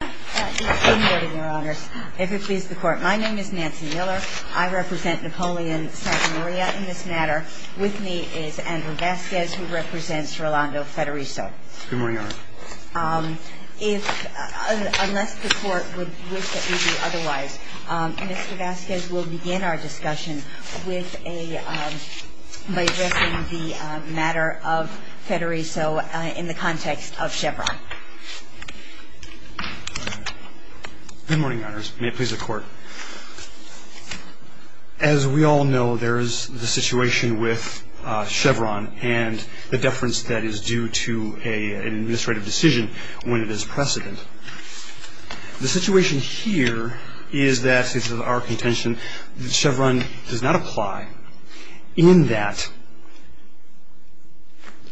Good morning, Your Honors. If it pleases the Court, my name is Nancy Miller. I represent Napoleon Sartre Maria in this matter. With me is Andrew Vasquez, who represents Rolando Federico. Good morning, Your Honor. Unless the Court would wish that we do otherwise, Mr. Vasquez will begin our discussion by addressing the matter of Federico in the context of Chevron. Good morning, Your Honors. May it please the Court. As we all know, there is the situation with Chevron and the deference that is due to an administrative decision when it is precedent. The situation here is that, since it is our contention, Chevron does not apply in that case.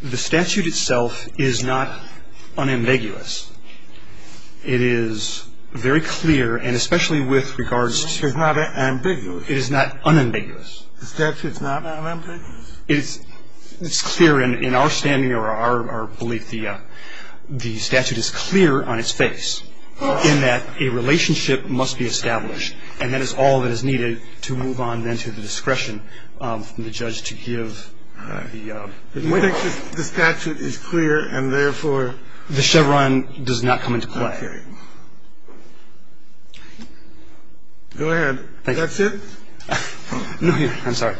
The statute itself is not unambiguous. It is very clear, and especially with regards to the statute. It's not unambiguous? It is not unambiguous. The statute is not unambiguous? It's clear in our standing or our belief. The statute is clear on its face in that a relationship must be established, and that is all that is needed to move on then to the statute itself. You think the statute is clear and, therefore… The Chevron does not come into play. Okay. Go ahead. That's it? No, Your Honor. I'm sorry.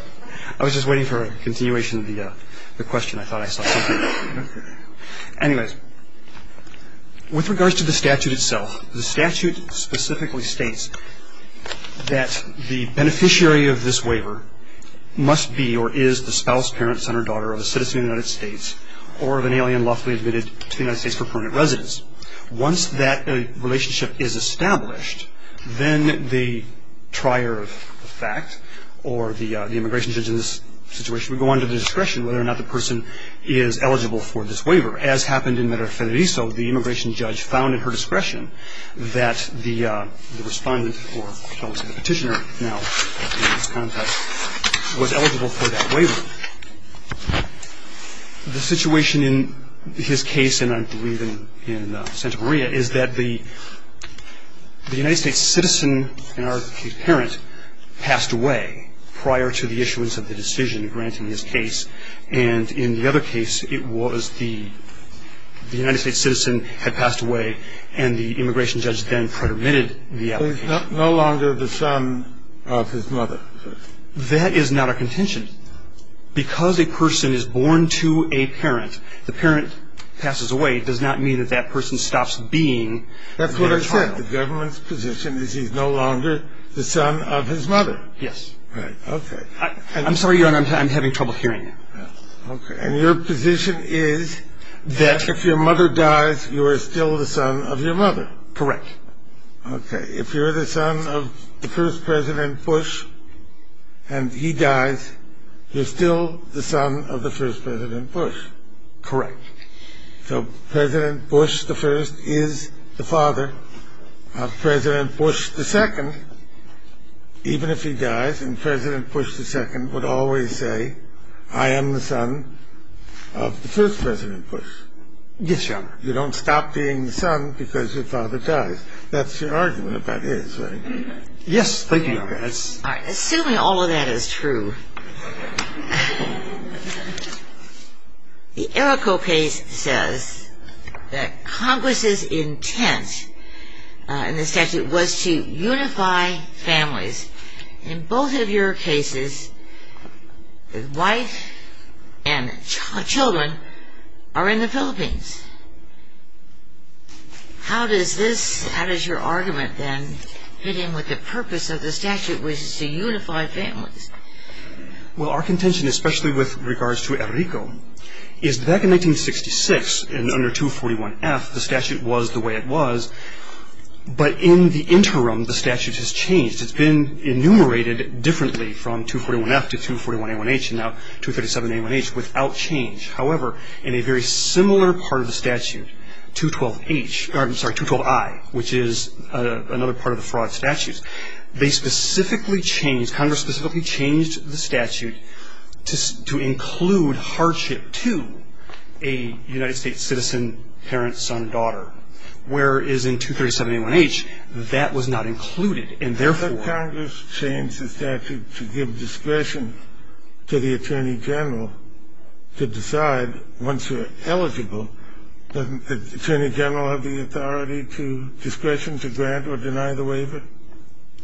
I was just waiting for a continuation of the question. I thought I saw something. Okay. Anyways, with regards to the statute itself, the statute specifically states that the of a citizen of the United States or of an alien lawfully admitted to the United States for permanent residence. Once that relationship is established, then the trier of fact or the immigration judge in this situation would go under the discretion of whether or not the person is eligible for this waiver. As happened in Medellín-Federico, the immigration judge found at her discretion that the respondent or, shall we say, the petitioner now in this case was eligible for the waiver. The situation in his case, and I believe in Santa Maria, is that the United States citizen and her parent passed away prior to the issuance of the decision granting his case. And in the other case, it was the United States citizen had passed away, and the immigration judge then permitted the application. So he's no longer the son of his mother. That is not a contention. Because a person is born to a parent, the parent passes away, it does not mean that that person stops being their child. That's what I said. The government's position is he's no longer the son of his mother. Yes. Right. Okay. I'm sorry, Your Honor, I'm having trouble hearing you. Okay. And your position is that if your mother dies, you are still the son of your mother. Correct. Okay. If you're the son of the first President Bush, and he dies, you're still the son of the first President Bush. Correct. So President Bush I is the father of President Bush II. Even if he dies, and President Bush II would always say, I am the son of the first President Bush. Yes, Your Honor. You don't stop being the son because your father dies. That's your argument about his, right? Yes. Thank you, Your Honor. All right. Assuming all of that is true, the Errico case says that Congress's intent in the statute was to unify families. In both of your cases, the wife and children are in the Philippines. How does this, how does your argument then, fit in with the purpose of the statute, which is to unify families? Well, our contention, especially with regards to Errico, is back in 1966, and under 241F, the statute was the way it was. But in the interim, the statute has changed. It's been enumerated differently from 241F to 241A1H, and now 237A1H, without change. However, in a very similar part of the statute, 212H, I'm sorry, 212I, which is another part of the fraud statute, they specifically changed, Congress specifically changed the statute to include hardship to a United States citizen, parent, son, daughter, whereas in 237A1H, that was not included. And therefore ---- But Congress changed the statute to give discretion to the Attorney General to decide, once you're eligible, doesn't the Attorney General have the authority to, discretion to grant or deny the waiver?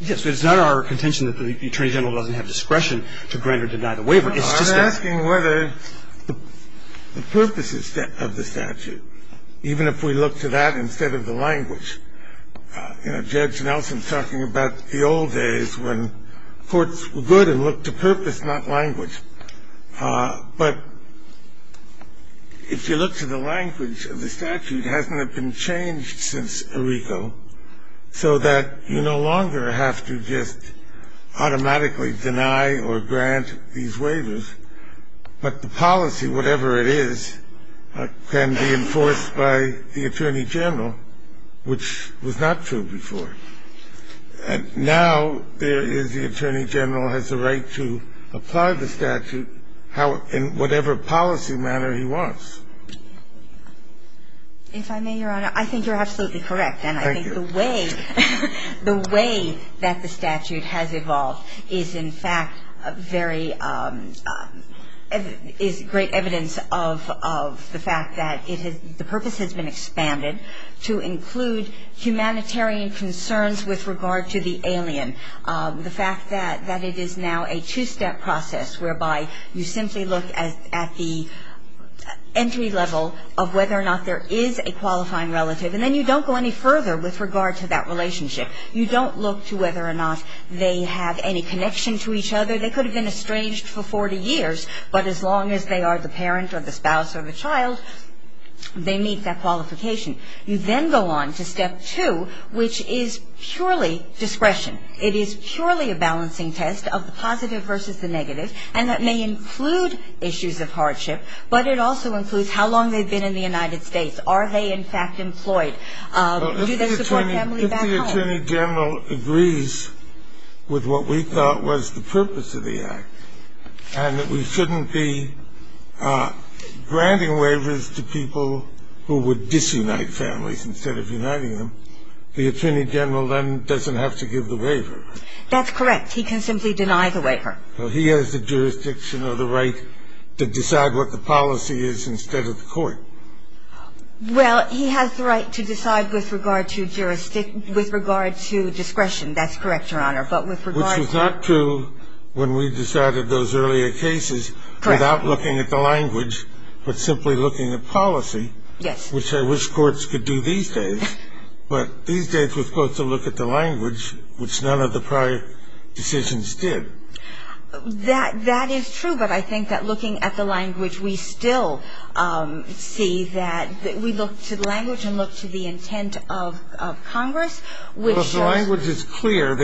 Yes, but it's not our contention that the Attorney General doesn't have discretion to grant or deny the waiver. I'm asking whether the purposes of the statute, even if we look to that instead of the language. You know, Judge Nelson's talking about the old days when courts were good and looked to purpose, not language. But if you look to the language of the statute, it hasn't been changed since Errico, so that you no longer have to just automatically deny or grant these waivers. But the policy, whatever it is, can be enforced by the Attorney General, which was not true before. And now there is the Attorney General has the right to apply the statute in whatever policy manner he wants. If I may, Your Honor, I think you're absolutely correct. Thank you. And I think the way that the statute has evolved is, in fact, very ---- is great evidence of the fact that it has ---- the purpose has been expanded to include humanitarian concerns with regard to the alien. The fact that it is now a two-step process whereby you simply look at the entry level of whether or not there is a qualifying relative, and then you don't go any further with regard to that relationship. You don't look to whether or not they have any connection to each other. They could have been estranged for 40 years, but as long as they are the parent or the spouse or the child, they meet that qualification. You then go on to step two, which is purely discretion. It is purely a balancing test of the positive versus the negative, and that may include issues of hardship, but it also includes how long they've been in the United States. Are they, in fact, employed? Do they support family back home? Well, if the Attorney General agrees with what we thought was the purpose of the Act and that we shouldn't be granting waivers to people who would disunite families instead of uniting them, the Attorney General then doesn't have to give the waiver. That's correct. He can simply deny the waiver. Well, he has the jurisdiction or the right to decide what the policy is instead of the court. Well, he has the right to decide with regard to jurisdiction, with regard to discretion. That's correct, Your Honor, but with regard to the law. Which was not true when we decided those earlier cases without looking at the language, but simply looking at policy. Yes. Which I wish courts could do these days, but these days we're supposed to look at the language, which none of the prior decisions did. That is true, but I think that looking at the language, we still see that we look to the language and look to the intent of Congress, which shows. Well, if the language is clear,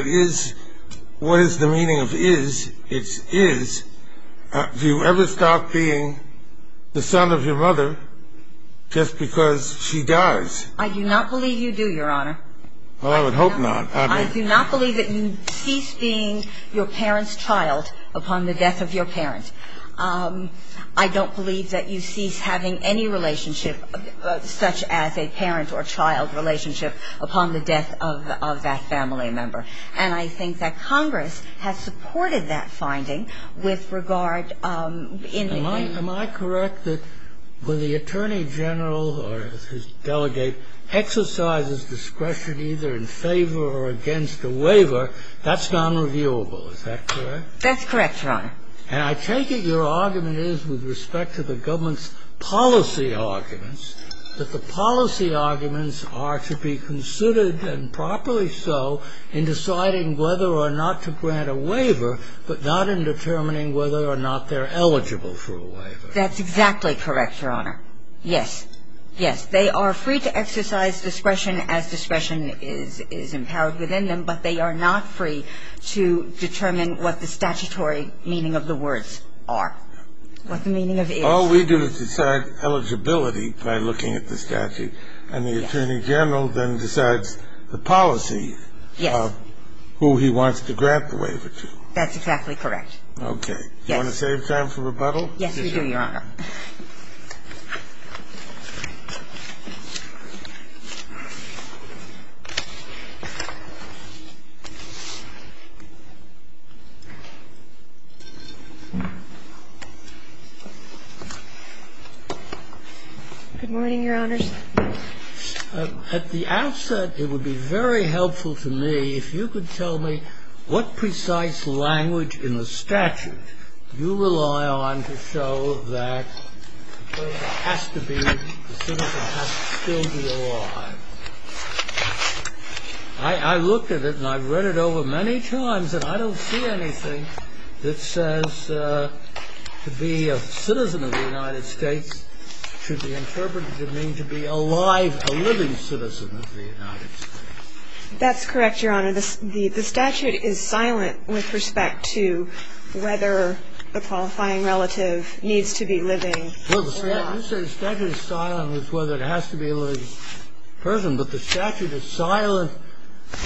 what is the meaning of is, it's is. Do you ever stop being the son of your mother just because she does? I do not believe you do, Your Honor. Well, I would hope not. I do not believe that you cease being your parent's child upon the death of your parent. I don't believe that you cease having any relationship such as a parent or child relationship upon the death of that family member. And I think that Congress has supported that finding with regard in the case. Am I correct that when the attorney general or his delegate exercises discretion either in favor or against a waiver, that's nonreviewable. Is that correct? That's correct, Your Honor. And I take it your argument is with respect to the government's policy arguments, that the policy arguments are to be considered and properly so in deciding whether or not to grant a waiver, but not in determining whether or not they're eligible for a waiver. That's exactly correct, Your Honor. Yes. Yes. They are free to exercise discretion as discretion is empowered within them, but they are not free to determine what the statutory meaning of the words are, what the meaning of is. All we do is decide eligibility by looking at the statute, and the attorney general then decides the policy of who he wants to grant the waiver to. That's exactly correct. Okay. Yes. Do you want to save time for rebuttal? Yes, we do, Your Honor. Good morning, Your Honors. At the outset, it would be very helpful to me if you could tell me what precise language in the statute you rely on to show that the person has to be, the citizen has to still be alive. I looked at it, and I've read it over many times, and I don't see anything that says to be a citizen of the United States should be interpreted to mean to be alive, a living citizen of the United States. That's correct, Your Honor. The statute is silent with respect to whether a qualifying relative needs to be living or not. Well, you say the statute is silent with whether it has to be a living person, but the statute is silent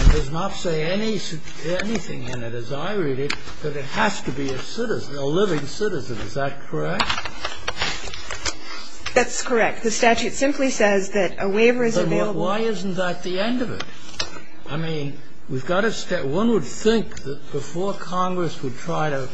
and does not say anything in it, as I read it, that it has to be a citizen, a living citizen. Is that correct? That's correct. The statute simply says that a waiver is available. Then why isn't that the end of it? I mean, we've got to stay. One would think that before Congress would try to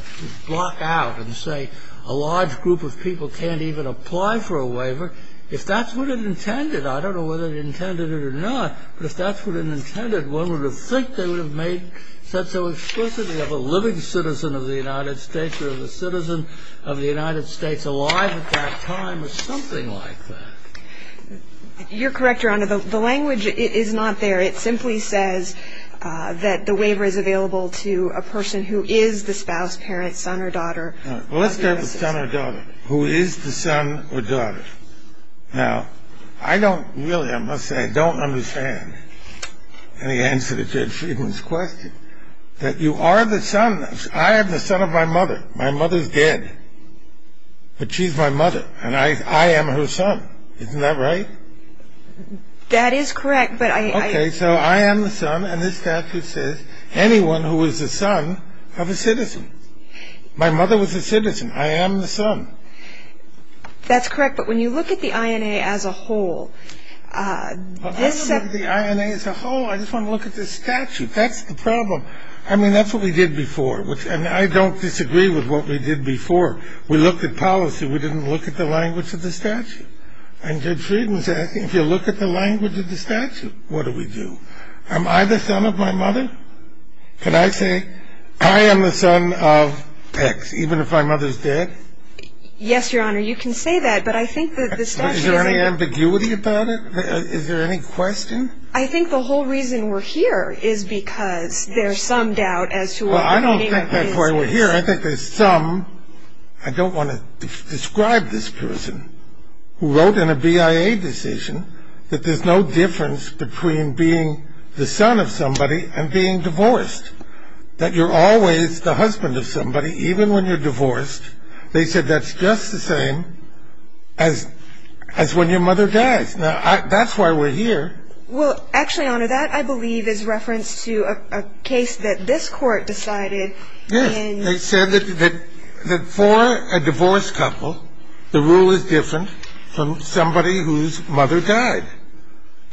block out and say a large group of people can't even apply for a waiver, if that's what it intended. I don't know whether it intended it or not, but if that's what it intended, one would think they would have made such an explicity of a living citizen of the United States or of a citizen of the United States alive at that time or something like that. You're correct, Your Honor. The language is not there. It simply says that the waiver is available to a person who is the spouse, parent, son or daughter. All right. Well, let's start with son or daughter. Who is the son or daughter? Now, I don't really, I must say, I don't understand any answer to Judge Friedman's question, that you are the son. I am the son of my mother. My mother's dead, but she's my mother, and I am her son. Isn't that right? That is correct, but I don't know. Okay, so I am the son, and this statute says anyone who is the son of a citizen. My mother was a citizen. I am the son. That's correct, but when you look at the INA as a whole, this set... I don't look at the INA as a whole. I just want to look at this statute. That's the problem. I mean, that's what we did before, and I don't disagree with what we did before. We looked at policy. We didn't look at the language of the statute. And Judge Friedman's asking, if you look at the language of the statute, what do we do? Am I the son of my mother? Can I say, I am the son of X, even if my mother's dead? Yes, Your Honor, you can say that, but I think that the statute... Is there any ambiguity about it? Is there any question? I think the whole reason we're here is because there's some doubt as to what we're doing... Well, I don't think that's why we're here. Your Honor, I think there's some... I don't want to describe this person who wrote in a BIA decision that there's no difference between being the son of somebody and being divorced. That you're always the husband of somebody, even when you're divorced. They said that's just the same as when your mother dies. Now, that's why we're here. Well, actually, Your Honor, that, I believe, is reference to a case that this Court decided in... They said that for a divorced couple, the rule is different from somebody whose mother died.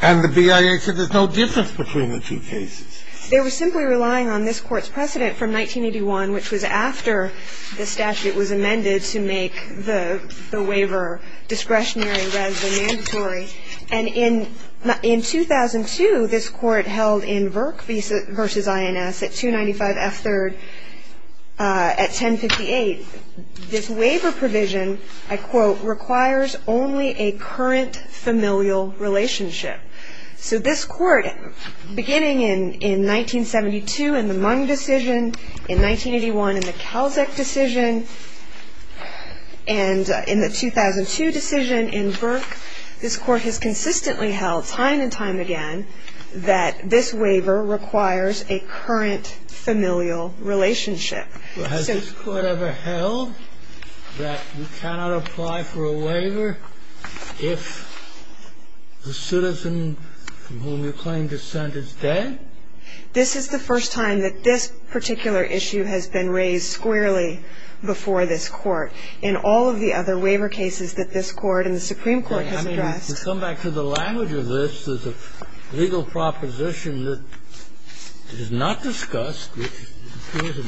And the BIA said there's no difference between the two cases. They were simply relying on this Court's precedent from 1981, which was after the statute was amended to make the waiver discretionary rather than mandatory. And in 2002, this Court held in Virk v. INS at 295 F. 3rd at 1058, this waiver provision, I quote, requires only a current familial relationship. So this Court, beginning in 1972 in the Mung decision, in 1981 in the Kalczak decision, and in the 2002 decision in Virk, this Court has consistently held time and time again that this waiver requires a current familial relationship. Has this Court ever held that you cannot apply for a waiver if the citizen whom you claim to send is dead? This is the first time that this particular issue has been raised squarely before this Court. In all of the other waiver cases that this Court and the Supreme Court has addressed... I mean, to come back to the language of this, there's a legal proposition that is not discussed, which appears in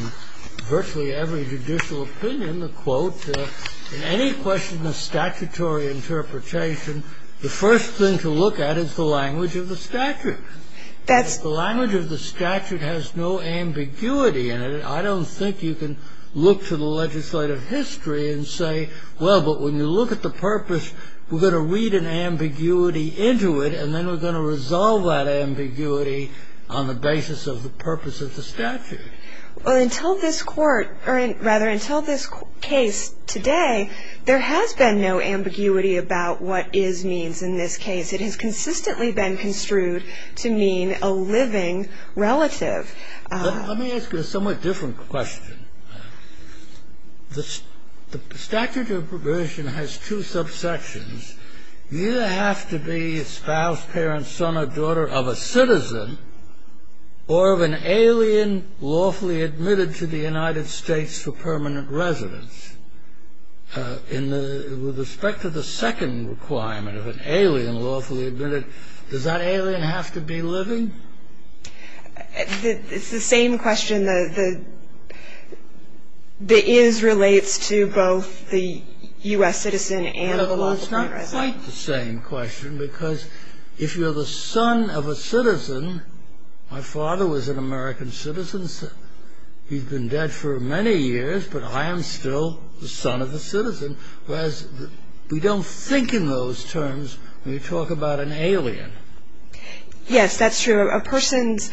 virtually every judicial opinion, the quote, in any question of statutory interpretation, the first thing to look at is the language of the statute. The language of the statute has no ambiguity in it. I don't think you can look to the legislative history and say, well, but when you look at the purpose, we're going to read an ambiguity into it, and then we're going to resolve that ambiguity on the basis of the purpose of the statute. Well, until this Court, or rather, until this case today, there has been no ambiguity about what is means in this case. It has consistently been construed to mean a living relative. Let me ask you a somewhat different question. The statute of probation has two subsections. You have to be spouse, parent, son or daughter of a citizen or of an alien lawfully admitted to the United States for permanent residence. With respect to the second requirement of an alien lawfully admitted, does that alien have to be living? It's the same question. The is relates to both the U.S. citizen and the lawfully admitted. Well, it's not quite the same question, because if you're the son of a citizen, my father was an American citizen, he's been dead for many years, but I am still the son of a citizen. Whereas we don't think in those terms when you talk about an alien. Yes, that's true. A person's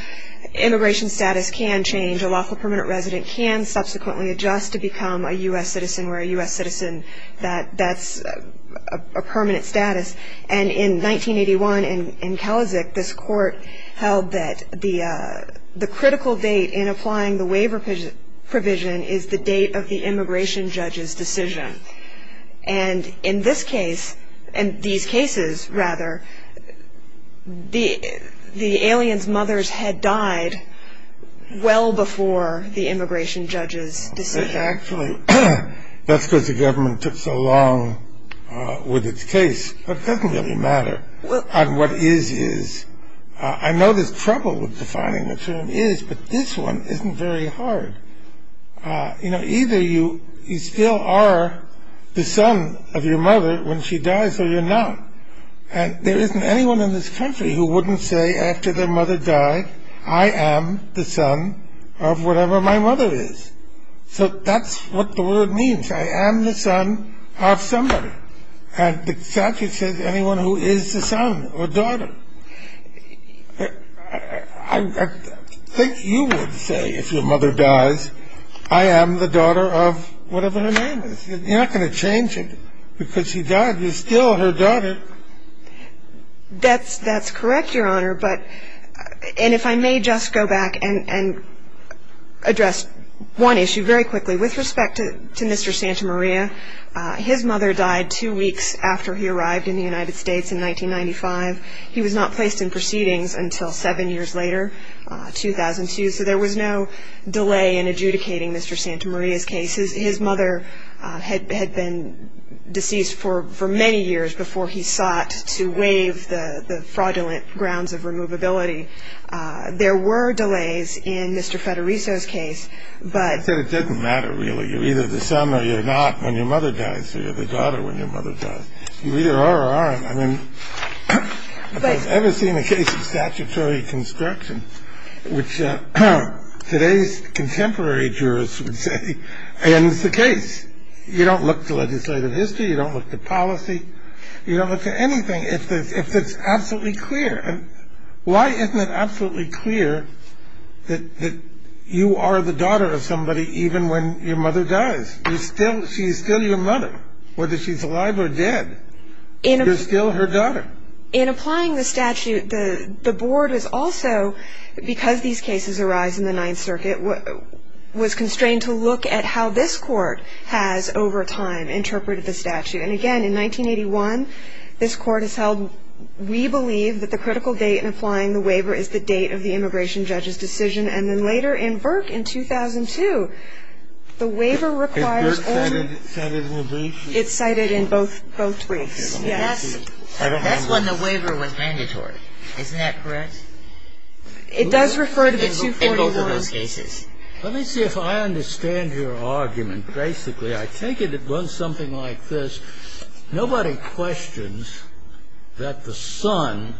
immigration status can change. A lawfully permanent resident can subsequently adjust to become a U.S. citizen where a U.S. citizen, that's a permanent status. And in 1981 in Kalisic, this Court held that the critical date in applying the waiver provision is the date of the immigration judge's decision. And in this case, in these cases, rather, the alien's mothers had died well before the immigration judge's decision. Actually, that's because the government took so long with its case. It doesn't really matter. What is, is. I know there's trouble with defining the term is, but this one isn't very hard. You know, either you still are the son of your mother when she dies or you're not. And there isn't anyone in this country who wouldn't say after their mother died, I am the son of whatever my mother is. So that's what the word means. I am the son of somebody. I think you would say if your mother dies, I am the daughter of whatever her name is. You're not going to change it because she died. You're still her daughter. That's correct, Your Honor. And if I may just go back and address one issue very quickly. With respect to Mr. Santamaria, his mother died two weeks after he arrived in the United States in 1995. He was not placed in proceedings until seven years later, 2002. So there was no delay in adjudicating Mr. Santamaria's case. His mother had been deceased for many years before he sought to waive the fraudulent grounds of removability. There were delays in Mr. Federico's case, but. I said it doesn't matter really. You're either the son or you're not when your mother dies. You're the daughter when your mother dies. You either are or aren't. I mean, if I've ever seen a case of statutory construction, which today's contemporary jurists would say ends the case. You don't look to legislative history. You don't look to policy. You don't look to anything if it's absolutely clear. Why isn't it absolutely clear that you are the daughter of somebody even when your mother dies? She's still your mother, whether she's alive or dead. You're still her daughter. In applying the statute, the board is also, because these cases arise in the Ninth Circuit, was constrained to look at how this court has over time interpreted the statute. And, again, in 1981, this court has held we believe that the critical date in applying the waiver is the date of the immigration judge's decision. And then later in Burke in 2002, the waiver requires only. It's cited in both briefs. Yes. That's when the waiver was mandatory. Isn't that correct? It does refer to the 241. In both of those cases. Let me see if I understand your argument. Basically, I take it it was something like this. Nobody questions that the son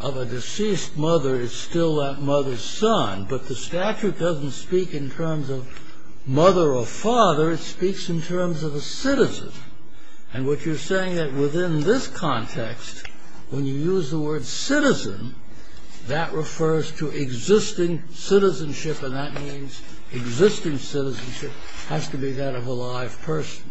of a deceased mother is still that mother's son. But the statute doesn't speak in terms of mother or father. It speaks in terms of a citizen. And what you're saying is that within this context, when you use the word citizen, that refers to existing citizenship, and that means existing citizenship has to be that of a live person.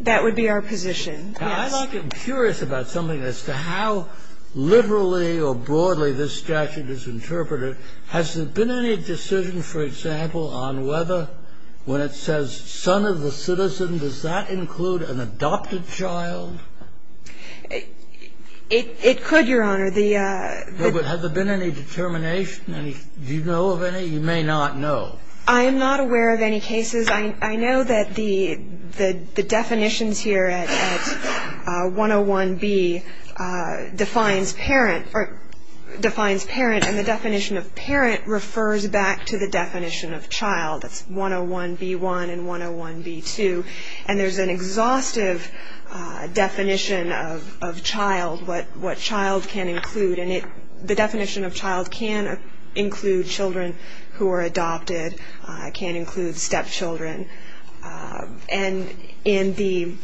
That would be our position. Yes. I'm curious about something as to how liberally or broadly this statute is interpreted. Has there been any decision, for example, on whether when it says son of a citizen, does that include an adopted child? It could, Your Honor. But has there been any determination? Do you know of any? You may not know. I'm not aware of any cases. I know that the definitions here at 101B defines parent and the definition of parent refers back to the definition of child. That's 101B1 and 101B2. And there's an exhaustive definition of child, what child can include. And the definition of child can include children who are adopted, can include stepchildren. And in the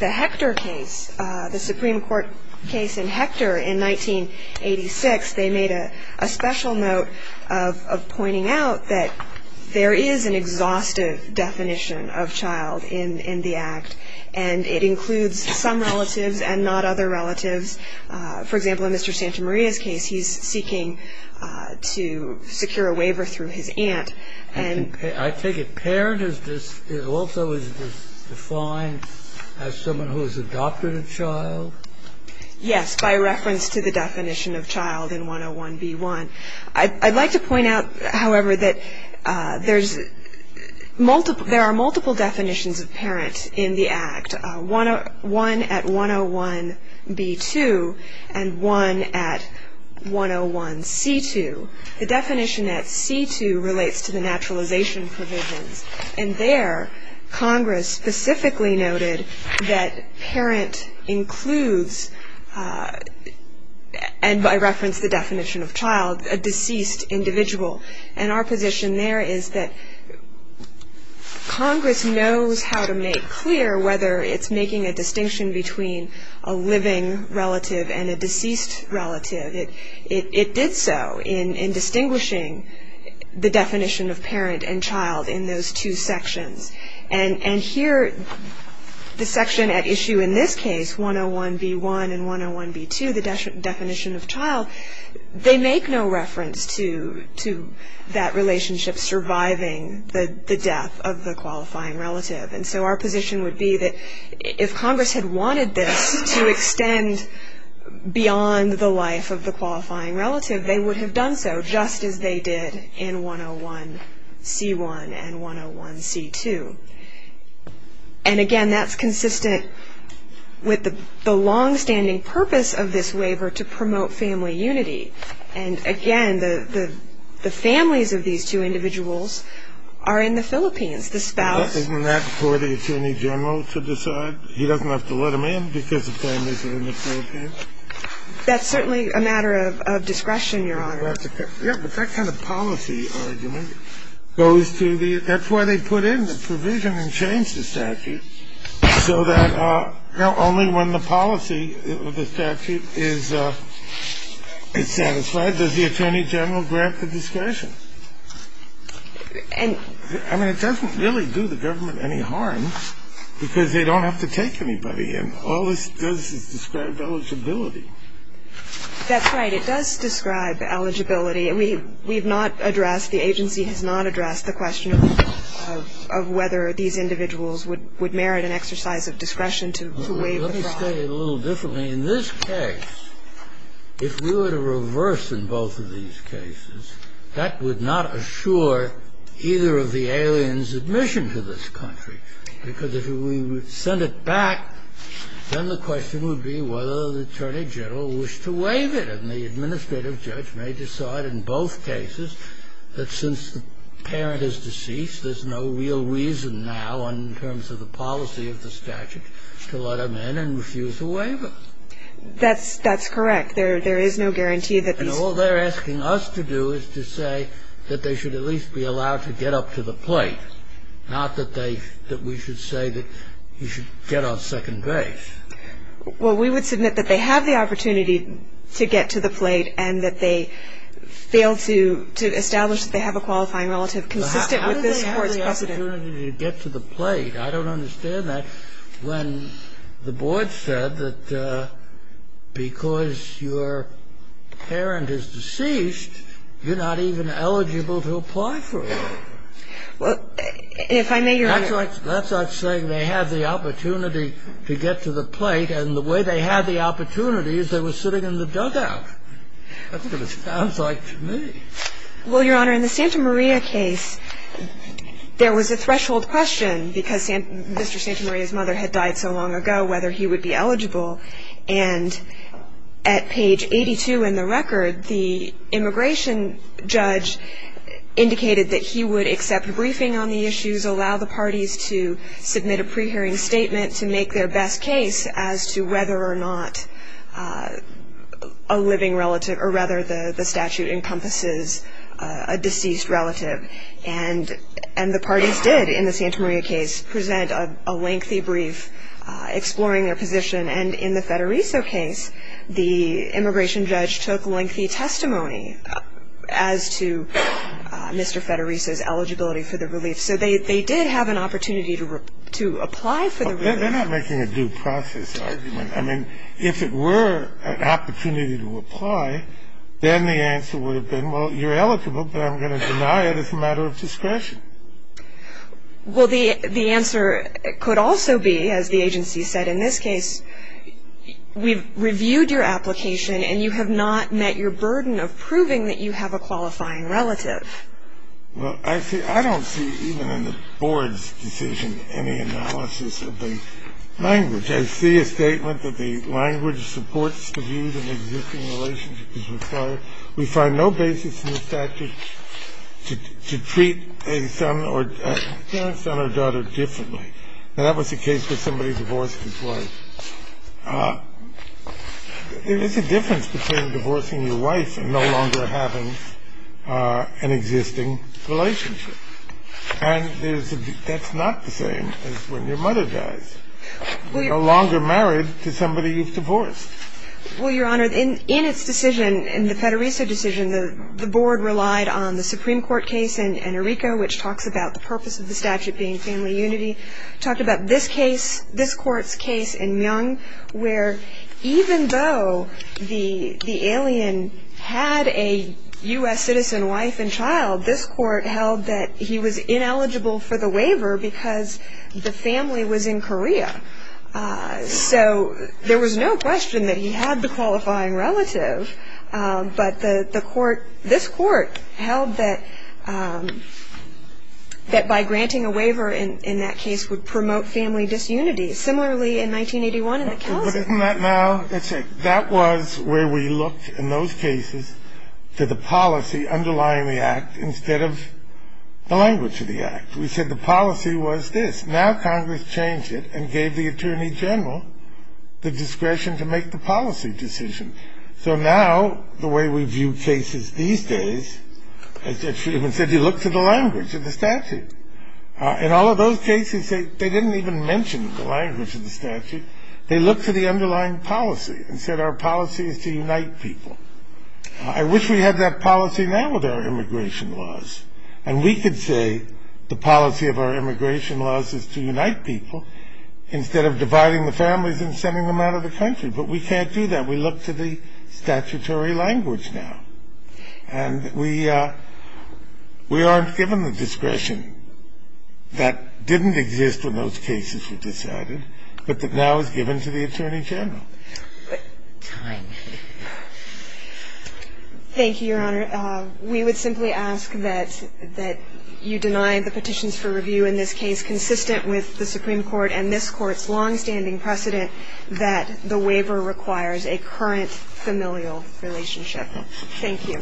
Hector case, the Supreme Court case in Hector in 1986, they made a special note of pointing out that there is an exhaustive definition of child in the Act, and it includes some relatives and not other relatives. In the case of Mr. Santamaria, for example, in Mr. Santamaria's case, he's seeking to secure a waiver through his aunt. I take it parent is also defined as someone who has adopted a child? Yes, by reference to the definition of child in 101B1. I'd like to point out, however, that there are multiple definitions of parent in the Act, one at 101B2 and one at 101C2. The definition at C2 relates to the naturalization provisions, and there Congress specifically noted that parent includes, and by reference to the definition of child, a deceased individual. And our position there is that Congress knows how to make clear whether it's making a distinction between a living relative and a deceased relative. It did so in distinguishing the definition of parent and child in those two sections. And here, the section at issue in this case, 101B1 and 101B2, the definition of child, they make no reference to that relationship surviving the death of the qualifying relative. And so our position would be that if Congress had wanted this to extend beyond the life of the qualifying relative, they would have done so, just as they did in 101C1 and 101C2. And, again, that's consistent with the longstanding purpose of this waiver to promote family unity. And, again, the families of these two individuals are in the Philippines. The spouse — Isn't that for the Attorney General to decide? He doesn't have to let them in because the families are in the Philippines? That's certainly a matter of discretion, Your Honor. Yeah, but that kind of policy argument goes to the — that's why they put in the provision and changed the statute so that only when the policy of the statute is satisfied does the Attorney General grant the discretion. I mean, it doesn't really do the government any harm because they don't have to take anybody in. All this does is describe eligibility. That's right. It does describe eligibility. We have not addressed — the agency has not addressed the question of whether these individuals would merit an exercise of discretion to waive the fraud. Let me state it a little differently. In this case, if we were to reverse in both of these cases, that would not assure either of the aliens' admission to this country because if we would send it back, then the question would be whether the Attorney General wished to waive it. And the administrative judge may decide in both cases that since the parent is deceased, there's no real reason now in terms of the policy of the statute to let them in and refuse a waiver. That's correct. There is no guarantee that these — And all they're asking us to do is to say that they should at least be allowed to get up to the plate, not that they — that we should say that you should get on second base. Well, we would submit that they have the opportunity to get to the plate and that they fail to establish that they have a qualifying relative consistent with this Court's precedent. How do they have the opportunity to get to the plate? I don't understand that when the board said that because your parent is deceased, you're not even eligible to apply for it. Well, if I may, Your Honor — That's like saying they had the opportunity to get to the plate and the way they had the opportunity is they were sitting in the dugout. That's what it sounds like to me. Well, Your Honor, in the Santa Maria case, there was a threshold question because Mr. Santa Maria's mother had died so long ago whether he would be eligible. And at page 82 in the record, the immigration judge indicated that he would accept a briefing on the issues, allow the parties to submit a pre-hearing statement to make their best case as to whether or not a living relative — or rather the statute encompasses a deceased relative. And the parties did, in the Santa Maria case, present a lengthy brief exploring their position and in the Federico case, the immigration judge took lengthy testimony as to Mr. Federico's eligibility for the relief. So they did have an opportunity to apply for the relief. They're not making a due process argument. I mean, if it were an opportunity to apply, then the answer would have been, well, you're eligible, but I'm going to deny it as a matter of discretion. Well, the answer could also be, as the agency said in this case, we've reviewed your application and you have not met your burden of proving that you have a qualifying relative. Well, I don't see, even in the board's decision, any analysis of the language. I see a statement that the language supports the view that an existing relationship is required. We find no basis in the statute to treat a son or — a parent's son or daughter differently. Now, that was the case with somebody who divorced his wife. There is a difference between divorcing your wife and no longer having an existing relationship. And there's a — that's not the same as when your mother dies. Well, Your Honor, in its decision, in the Federico decision, the board relied on the Supreme Court case in Enrico, which talks about the purpose of the statute being family unity. Talked about this case, this court's case in Myeong, where even though the alien had a U.S. citizen wife and child, this court held that he was ineligible for the waiver because the family was in Korea. So there was no question that he had the qualifying relative, but the court — this court held that by granting a waiver in that case would promote family disunity. Similarly, in 1981 in the — But isn't that now — that was where we looked in those cases to the policy underlying the act instead of the language of the act. We said the policy was this. Now Congress changed it and gave the Attorney General the discretion to make the policy decision. So now, the way we view cases these days, as she even said, you look to the language of the statute. In all of those cases, they didn't even mention the language of the statute. They looked to the underlying policy and said our policy is to unite people. I wish we had that policy now with our immigration laws. And we could say the policy of our immigration laws is to unite people instead of dividing the families and sending them out of the country. But we can't do that. We look to the statutory language now. And we aren't given the discretion that didn't exist when those cases were decided, but that now is given to the Attorney General. Time. Thank you, Your Honor. We would simply ask that you deny the petitions for review in this case consistent with the Supreme Court and this Court's longstanding precedent that the waiver requires a current familial relationship. Thank you.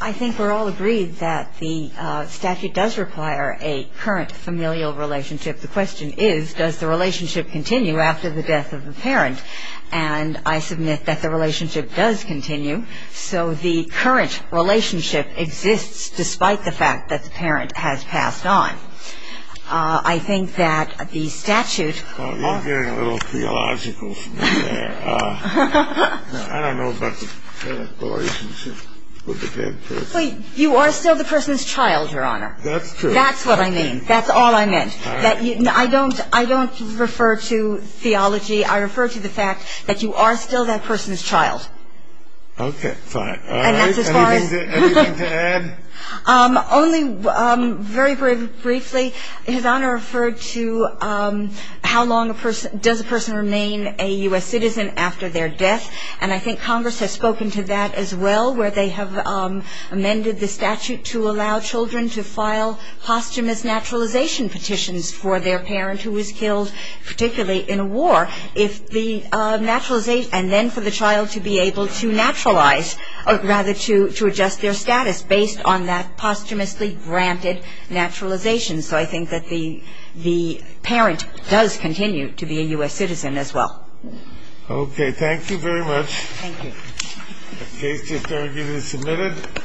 I think we're all agreed that the statute does require a current familial relationship. The question is, does the relationship continue after the death of the parent? And I submit that the relationship does continue. So the current relationship exists despite the fact that the parent has passed on. I think that the statute. You're getting a little theological from me there. I don't know about the current relationship with the dead person. You are still the person's child, Your Honor. That's true. That's what I mean. That's all I meant. I don't refer to theology. I refer to the fact that you are still that person's child. Okay. Fine. Anything to add? Only very, very briefly. His Honor referred to how long does a person remain a U.S. citizen after their death. And I think Congress has spoken to that as well where they have amended the statute to allow children to file posthumous naturalization petitions for their parent who was killed, particularly in a war. And then for the child to be able to naturalize, or rather to adjust their status, based on that posthumously granted naturalization. So I think that the parent does continue to be a U.S. citizen as well. Okay. Thank you very much. Thank you. The case is submitted.